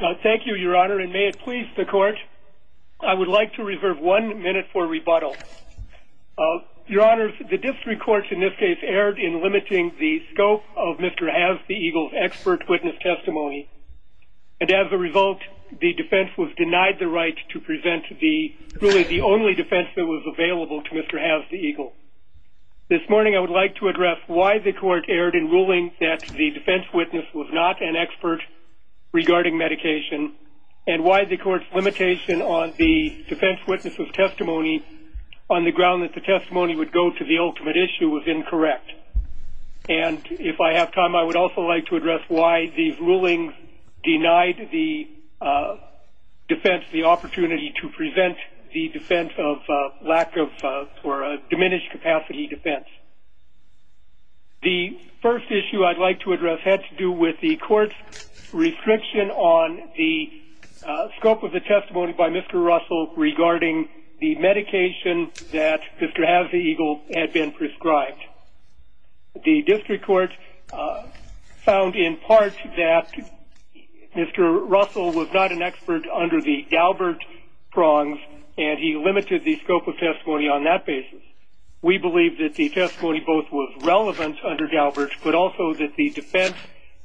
Thank you, your honor, and may it please the court, I would like to reserve one minute for rebuttal. Your honor, the district court in this case erred in limiting the scope of Mr. Has The Eagle's expert witness testimony, and as a result the defense was denied the right to present the only defense that was available to Mr. Has The Eagle. This morning I would like to address why the court's limitation on the defense witnesses' testimony on the ground that the testimony would go to the ultimate issue was incorrect. And if I have time I would also like to address why the rulings denied the defense the opportunity to prevent the defense of lack of or diminished capacity defense. The first issue I'd like to address had to do with the court's restriction on the scope of the testimony by Mr. Russell regarding the medication that Mr. Haseagle had been prescribed. The district court found in part that Mr. Russell was not an expert under the Daubert prongs and he limited the scope of testimony on that basis. We believe that the testimony both was relevant under Daubert but also that the defense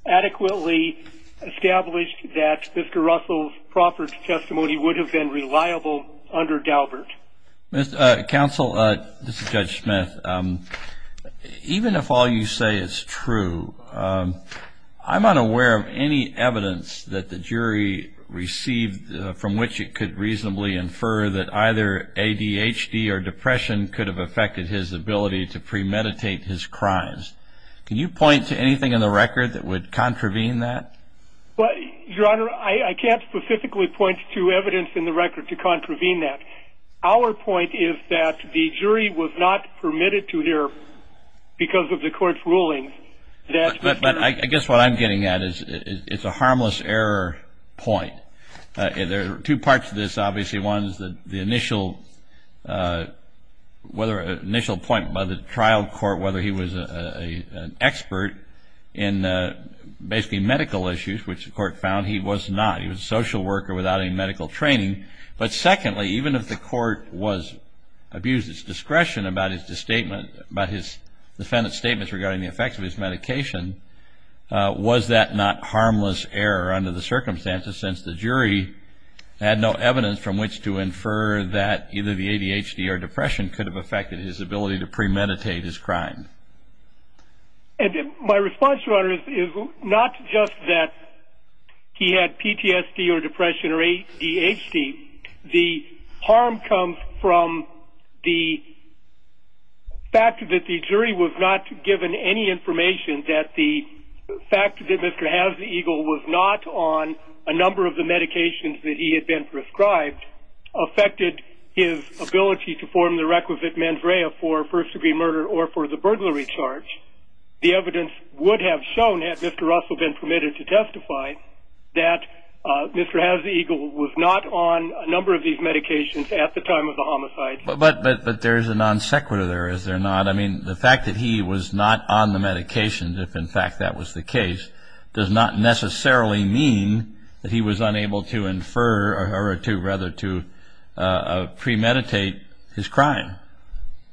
adequately established that Mr. Russell's proffered testimony would have been reliable under Daubert. Counsel, this is Judge Smith, even if all you say is true, I'm unaware of any evidence that the jury received from which it could reasonably infer that either ADHD or depression could have affected his ability to premeditate his crimes. Can you point to anything in the record that would contravene that? Your Honor, I can't specifically point to evidence in the record to contravene that. Our point is that the jury was not permitted to hear because of the court's ruling. But I guess what I'm getting at is it's a case where the initial point by the trial court, whether he was an expert in basically medical issues, which the court found he was not. He was a social worker without any medical training. But secondly, even if the court was abused its discretion about his defendant's statements regarding the effects of his medication, was that not harmless error under the circumstances since the jury had no evidence from which to infer that either the ADHD or depression could have affected his ability to premeditate his crime. And my response, Your Honor, is not just that he had PTSD or depression or ADHD. The harm comes from the fact that the jury was not given any information that the fact that Mr. Hazegel was not on a number of the medications that he had been prescribed affected his ability to form the requisite mens rea for first degree murder or for the burglary charge. The evidence would have shown, had Mr. Russell been permitted to testify, that Mr. Hazegel was not on a number of these medications at the time of the homicide. But there's a non sequitur there, is there not? I mean, the fact that he was not on the medications, if in fact that was the case, does not necessarily mean that he was unable to infer or to rather to premeditate his crime.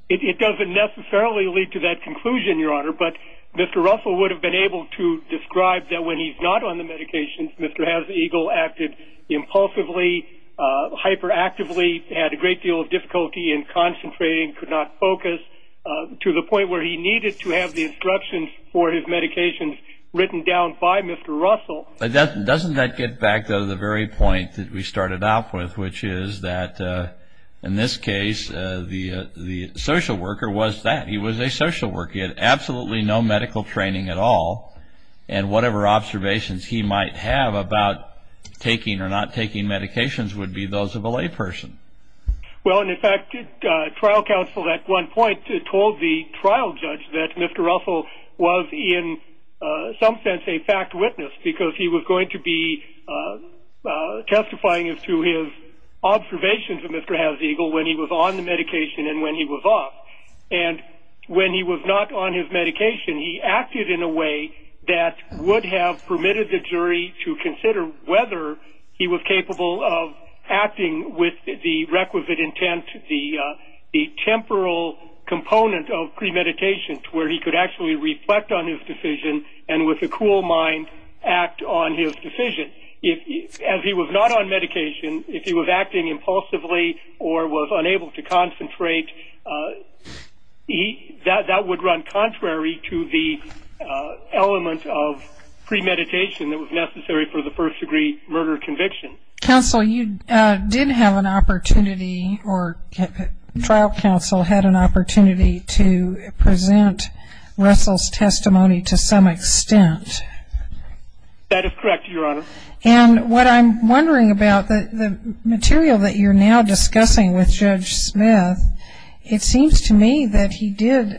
It doesn't necessarily lead to that conclusion, Your Honor, but Mr. Russell would have been able to describe that when he's not on the medications, Mr. Hazegel acted impulsively, hyperactively, had a great deal of difficulty in concentrating, could not focus to the point where he was written down by Mr. Russell. But doesn't that get back to the very point that we started out with, which is that in this case, the social worker was that he was a social worker. He had absolutely no medical training at all. And whatever observations he might have about taking or not taking medications would be those of a layperson. Well, in fact, trial counsel at one point told the trial judge that Mr. Russell was in some sense a fact witness because he was going to be testifying as to his observations of Mr. Hazegel when he was on the medication and when he was off. And when he was not on his medication, he acted in a way that would have permitted the jury to consider whether he was of premeditation to where he could actually reflect on his decision and with a cool mind act on his decision. As he was not on medication, if he was acting impulsively or was unable to concentrate, that would run contrary to the element of premeditation that was necessary for the first degree murder conviction. Counsel, you did have an opportunity or trial counsel had an opportunity to present Russell's testimony to some extent. That is correct, Your Honor. And what I'm wondering about the material that you're now discussing with Judge Smith, it seems to me that he did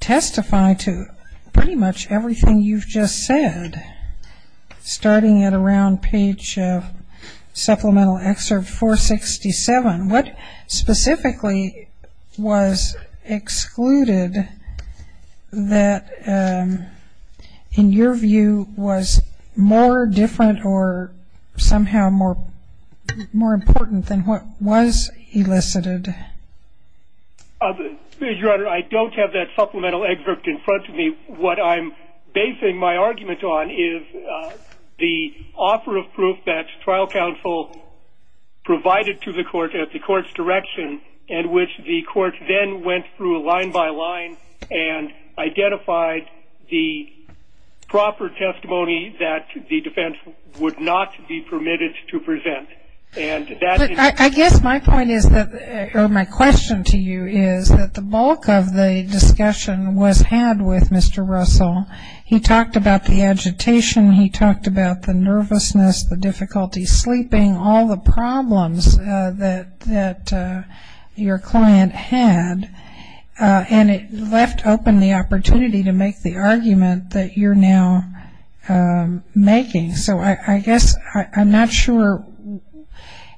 testify to pretty much everything you've just said, starting at around page supplemental excerpt 467. What specifically was excluded that, in your view, was more different or somehow more important than what was elicited? Your Honor, I don't have that supplemental excerpt in front of me. What I'm basing my argument on is the offer of proof that trial counsel provided to the court at the court's direction in which the court then went through line by line and identified the proper testimony that the defense would not be permitted to present. I guess my point is that my question to you is that the bulk of the discussion was had with Mr. Smith, the difficulty sleeping, all the problems that your client had, and it left open the opportunity to make the argument that you're now making. So I guess I'm not sure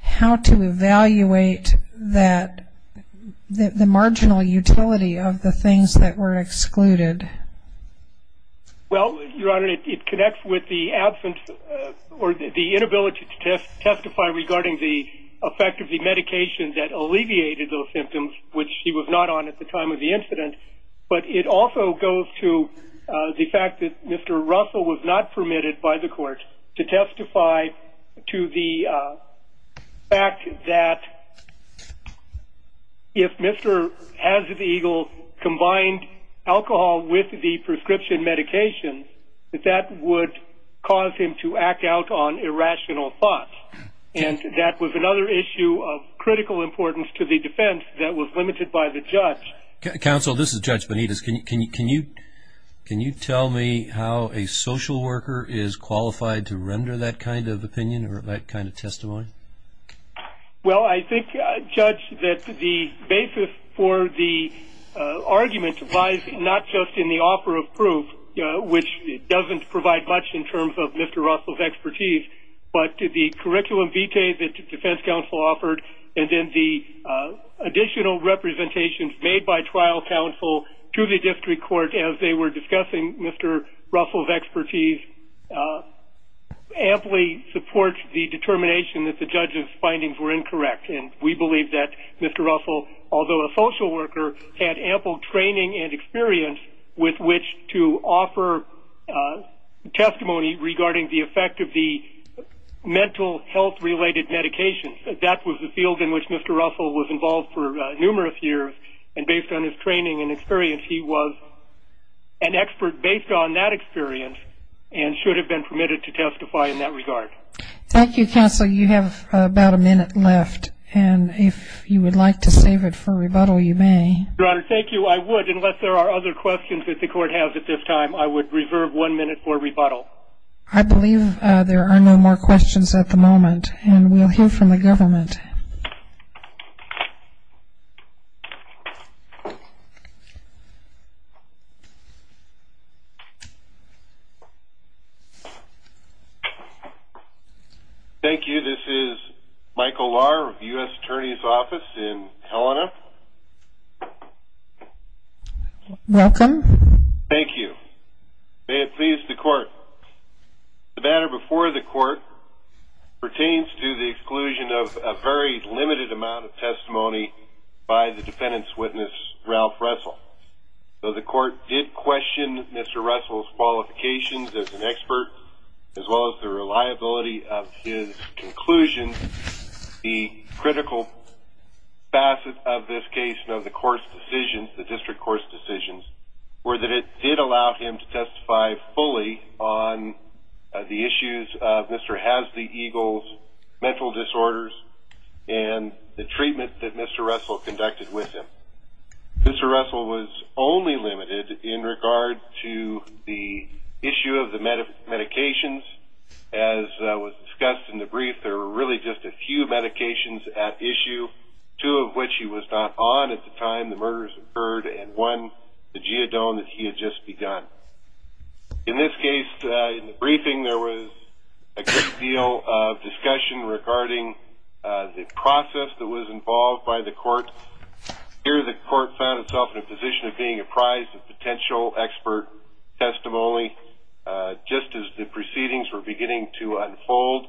how to evaluate the marginal utility of the things that were excluded. Well, Your Honor, it connects with the absence or the inability to testify regarding the effect of the medication that alleviated those symptoms, which she was not on at the time of the incident, but it also goes to the fact that Mr. Russell was not permitted by the court to testify to the fact that if Mr. Hazard Eagle combined alcohol with the prescription medication, that that would cause him to act out on irrational thoughts, and that was another issue of critical importance to the defense that was limited by the judge. Counsel, this is Judge Benitez. Can you tell me how a social worker is qualified to render that kind of opinion or that kind of testimony? Well, I think, Judge, that the basis for the argument lies not just in the offer of proof, which doesn't provide much in terms of Mr. Russell's expertise, but the curriculum vitae that the defense counsel offered, and then the additional representations made by trial counsel to the district court as they were discussing Mr. Russell's expertise, amply supports the determination that the judge's findings were incorrect, and we believe that Mr. Russell, although a social worker, had ample training and experience with which to offer testimony regarding the effect of the mental health-related medications. That was the field in which Mr. Russell was involved for numerous years, and he was an expert based on that experience and should have been permitted to testify in that regard. Thank you, Counsel. You have about a minute left, and if you would like to save it for rebuttal, you may. Your Honor, thank you. I would, unless there are other questions that the court has at this time. I would reserve one minute for rebuttal. I believe there are no more questions at the moment, and we'll hear from the government. Thank you. This is Michael Lahr of the U.S. Attorney's Office in Helena. Welcome. Thank you. May it please the court, the matter before the court pertains to the exclusion of a very limited amount of testimony by the defendant's witness, Ralph Russell. Though the court did question Mr. Russell's qualifications as an expert, as well as the reliability of his conclusions, the critical facet of this case and of the court's decisions, the district court's decisions, were that it did allow him to testify fully on the issues of Mr. Hasley Eagle's mental disorders and the treatment that Mr. Russell conducted with him. Mr. Russell was only limited in regard to the issue of the medications. As was discussed in the brief, there were really just a few medications at issue, two of which he was not on at the time the murders occurred, and one, the geodone that he had just begun. In this case, in the briefing, there was a great deal of discussion regarding the process that was involved by the court. Here, the court found itself in a position of being apprised of potential expert testimony. Just as the proceedings were beginning to unfold,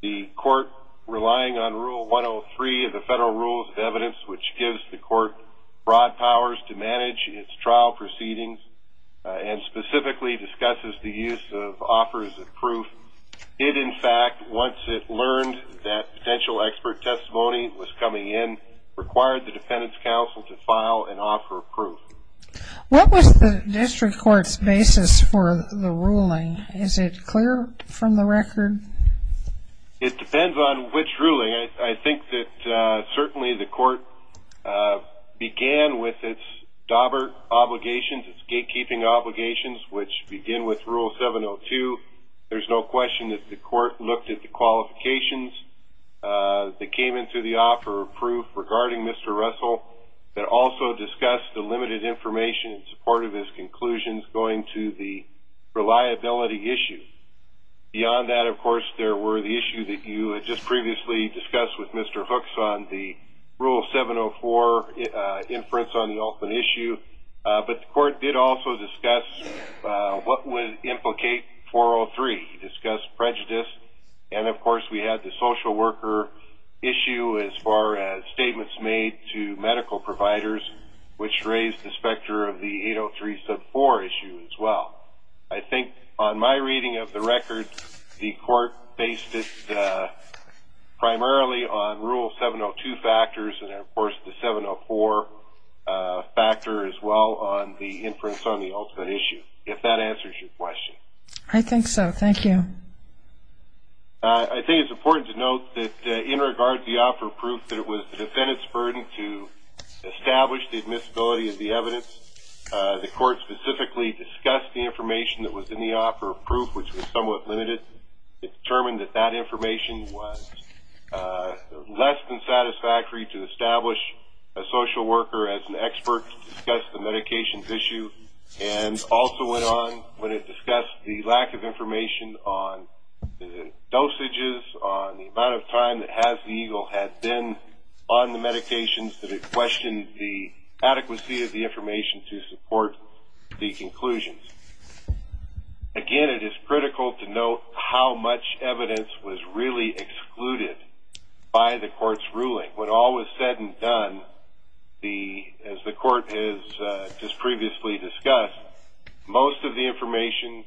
the court, relying on Rule 103 of the Federal Rules of Evidence, which gives the court broad powers to manage its trial proceedings, and specifically discusses the use of offers of proof, it, in fact, once it learned that potential expert testimony was coming in, required the Dependents' Council to file and offer proof. What was the district court's basis for the ruling? Is it clear from the record? It depends on which ruling. I think that certainly the court began with its DOBR obligations, its gatekeeping obligations, which begin with Rule 702. There's no question that the court looked at the qualifications that came into the offer of proof regarding Mr. Russell, that also discussed the limited information in support of his conclusions going to the reliability issue. Beyond that, of course, there were the issues that you had just previously discussed with Mr. Hooks on the Rule 704 inference on the Olson issue, but the court did also discuss what would implicate 403. It discussed prejudice, and, of course, we had the social worker issue as far as statements made to medical providers, which raised the specter of the 803 sub 4 issue as well. I think, on my reading of the record, the court based it primarily on Rule 702 factors and, of course, the 704 factor as well on the inference on the Olson issue, if that answers your question. I think so. Thank you. I think it's important to note that in regard to the offer of proof that it was the defendant's burden to establish the admissibility of the evidence, the court specifically discussed the information that was in the offer of proof, which was somewhat limited. It determined that that information was less than satisfactory to establish a social worker as an expert to discuss the medications issue, and also went on when it discussed the lack of information on dosages, on the amount of time that Hazen Eagle had been on the medications, that it questioned the adequacy of the information to support the conclusions. Again, it is critical to note how much evidence was really excluded by the court's ruling. When all was said and done, as the court has just previously discussed, most of the information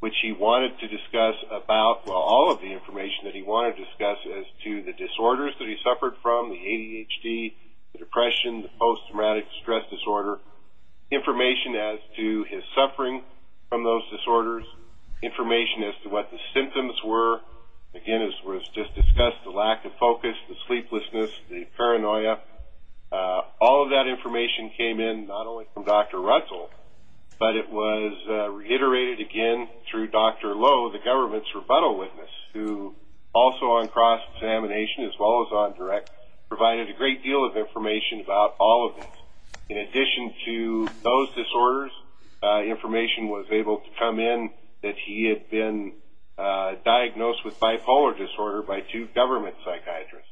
which he wanted to discuss about, well, all of the information that he wanted to discuss as to the disorders that he suffered from, the ADHD, the depression, the post-traumatic stress disorder, information as to his suffering from those disorders, information as to what the symptoms were, again, as was just discussed, the lack of focus, the sleeplessness, the paranoia, all of that information came in not only from Dr. Russell, but it was reiterated again through Dr. Lowe, the government's rebuttal witness, who also on cross-examination, as well as on direct, provided a great deal of information about all of this, in addition to those disorders, information was able to come in that he had been diagnosed with bipolar disorder by two government psychiatrists.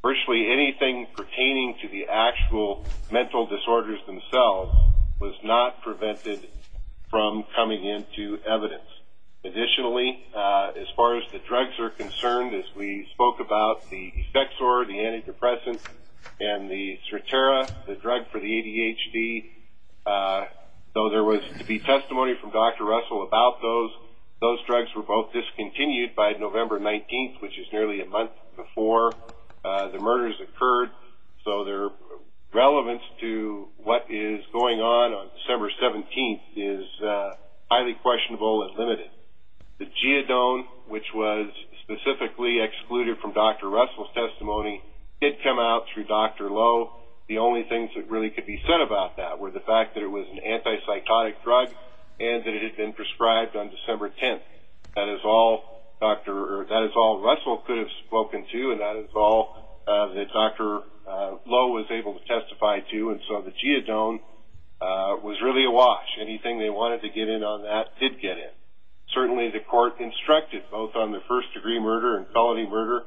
Virtually anything pertaining to the actual mental disorders themselves was not prevented from coming into evidence. Additionally, as far as the drugs are concerned, as we spoke about the Effexor, the antidepressant, and the Sertera, the drug for the ADHD, though there was to be testimony from Dr. Russell about those, those drugs were both discontinued by November 19th, which is nearly a month before the murders occurred, so their relevance to what is going on on December 17th is highly questionable and limited. The Geodone, which was specifically excluded from Dr. Russell's testimony, did come out through Dr. Lowe. The only things that really could be said about that were the fact that it was an anti-psychotic drug, and that it had been prescribed on December 10th. That is all Russell could have spoken to, and that is all that Dr. Lowe was able to testify to, and so the Geodone was really a watch. Anything they wanted to get in on that did get in. Certainly the court instructed, both on the first-degree murder and felony murder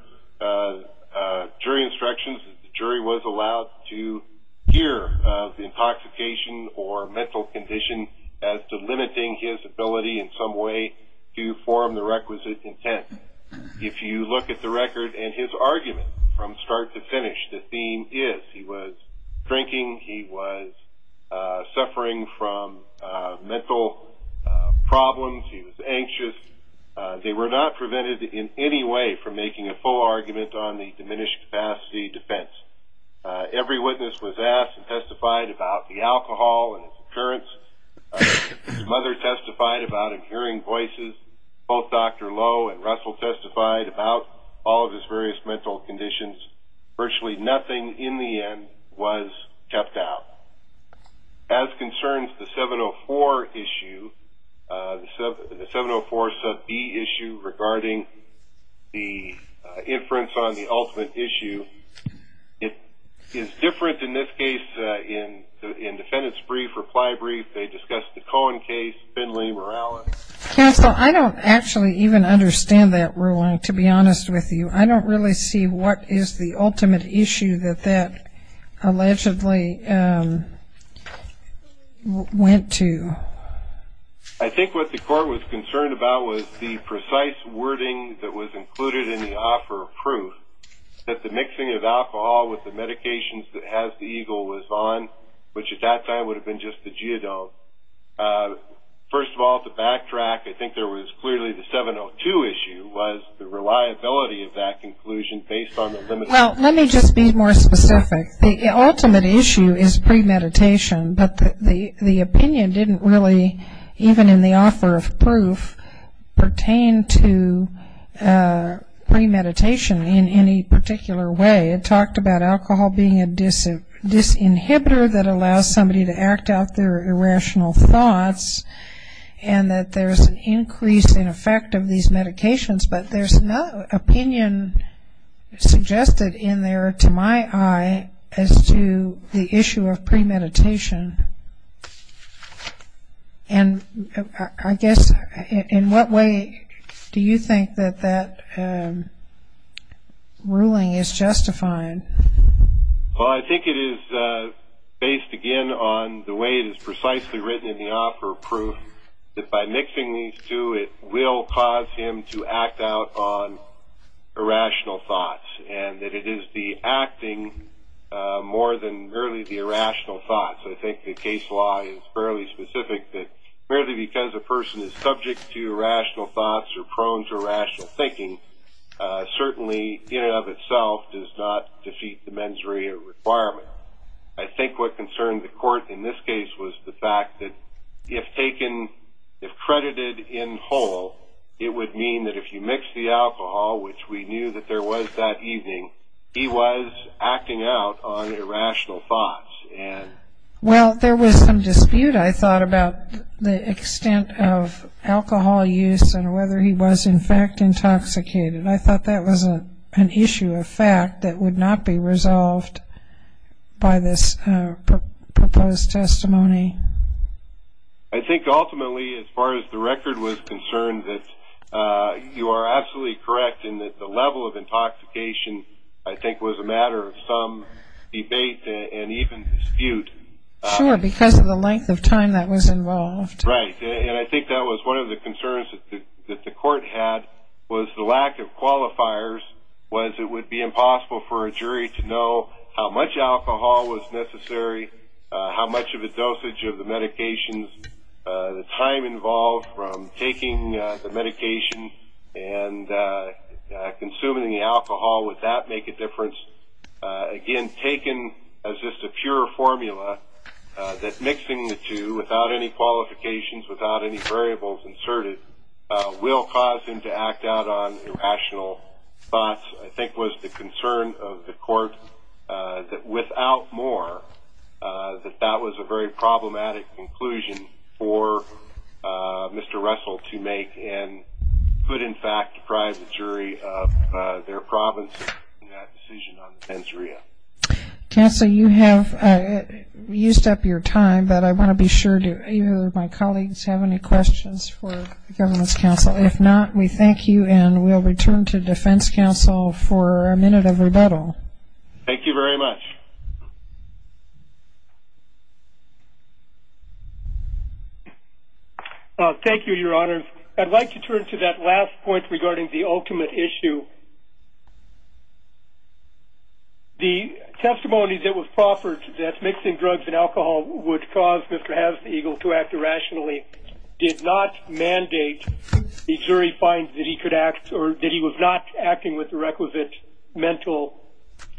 jury instructions, the jury was allowed to hear of the intoxication or mental condition as to limiting his ability in some way to form the requisite intent. If you look at the record and his argument from start to finish, the theme is he was drinking, he was suffering from mental problems, he was anxious. They were not prevented in any way from making a full argument on the diminished capacity defense. Every witness was asked and testified about the alcohol and his appearance. His mother testified about him hearing voices. Both Dr. Lowe and Russell testified about all of his various mental conditions. Virtually nothing, in the end, was kept out. As concerns the 704 issue, the 704 sub B issue regarding the inference on the ultimate issue, it is different in this case, in the defendants' brief, reply brief, they discussed the Cohen case, Finley, Morales. Counsel, I don't actually even understand that ruling, to be honest with you. I don't really see what is the ultimate issue that that allegedly went to. I think what the court was concerned about was the precise wording that was included in the offer of proof. That the mixing of alcohol with the medications that has the eagle was on, which at that time would have been just the geodote. First of all, to backtrack, I think there was clearly the 702 issue was the reliability of that conclusion based on the limited... Well, let me just be more specific. The ultimate issue is premeditation, but the opinion didn't really, even in the offer of proof, pertain to premeditation in any particular way. It talked about alcohol being a disinhibitor that allows somebody to act out their irrational thoughts, and that there's an increase in effect of these medications, but there's no opinion suggested in there to my eye as to the issue of premeditation. And I guess, in what way do you think that that ruling is justified? Well, I think it is based, again, on the way it is precisely written in the offer of proof that by mixing these two it will cause him to act out on irrational thoughts, and that it is the acting more than merely the irrational thoughts. I think the case law is fairly specific that merely because a person is subject to irrational thoughts or prone to irrational thinking, certainly, in and of itself, does not defeat the mens rea requirement. I think what concerned the court in this case was the fact that if taken, if credited in whole, it would mean that if you mix the alcohol, which we knew that there was that evening, he was acting out on irrational thoughts. Well, there was some dispute, I thought, about the extent of alcohol use and whether he was in fact intoxicated. I thought that was an issue of fact that would not be resolved by this proposed testimony. I think ultimately, as far as the record was concerned, that you are absolutely correct in that the level of intoxication I think was a matter of some debate and even dispute. Sure, because of the length of time that was involved. Right, and I think that was one of the concerns that the court had was the lack of qualifiers, was it would be impossible for a jury to know how much alcohol was necessary, how much of a dosage of the medications, the time involved from taking the medication and consuming the alcohol, would that make a difference? Again, taken as just a pure formula, that mixing the two without any qualifications, without any variables inserted, will cause him to act out on irrational thoughts, I think was the concern of the court that without more that that was a very problematic conclusion for Mr. Russell to make and could in fact deprive the jury of their province in that decision on the pensoria. Counsel, you have used up your time, but I want to be sure, do any of my colleagues have any questions for the government's counsel? If not, we thank you and we'll return to defense counsel for a further comment. Thank you very much. Thank you, your honors. I'd like to turn to that last point regarding the ultimate issue. The testimony that was proffered that mixing drugs and alcohol would cause Mr. Hazegel to act irrationally did not mandate the jury find that he could act or that he was not acting with the requisite mental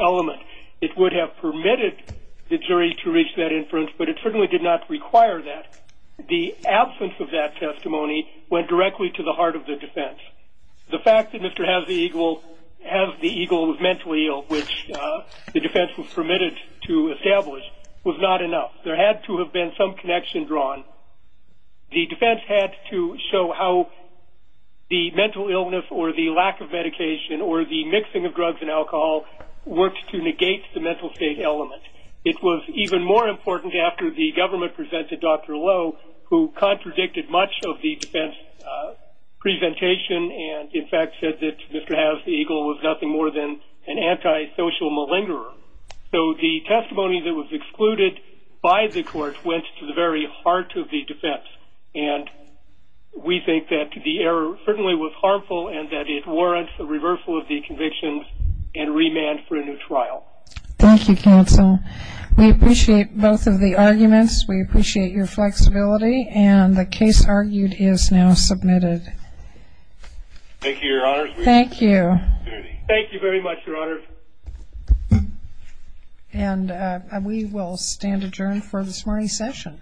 element. It would have permitted the jury to reach that inference, but it certainly did not require that. The absence of that testimony went directly to the heart of the defense. The fact that Mr. Hazegel was mentally ill, which the defense was permitted to establish, was not enough. There had to have been some connection drawn. The defense had to show how the mental illness or the lack of medication or the mixing of drugs and alcohol worked to negate the mental state element. It was even more important after the government presented Dr. Lowe, who contradicted much of the defense presentation and in fact said that Mr. Hazegel was nothing more than an anti-social malingerer. So the testimony that was excluded by the court went to the very heart of the defense. And we think that the error certainly was harmful and that it warrants the reversal of the convictions and remand for a new trial. Thank you, counsel. We appreciate both of the arguments. We appreciate your flexibility and the case argued is now submitted. Thank you, Your Honors. Thank you. Thank you very much, Your Honors. And we will stand adjourned for this morning's session.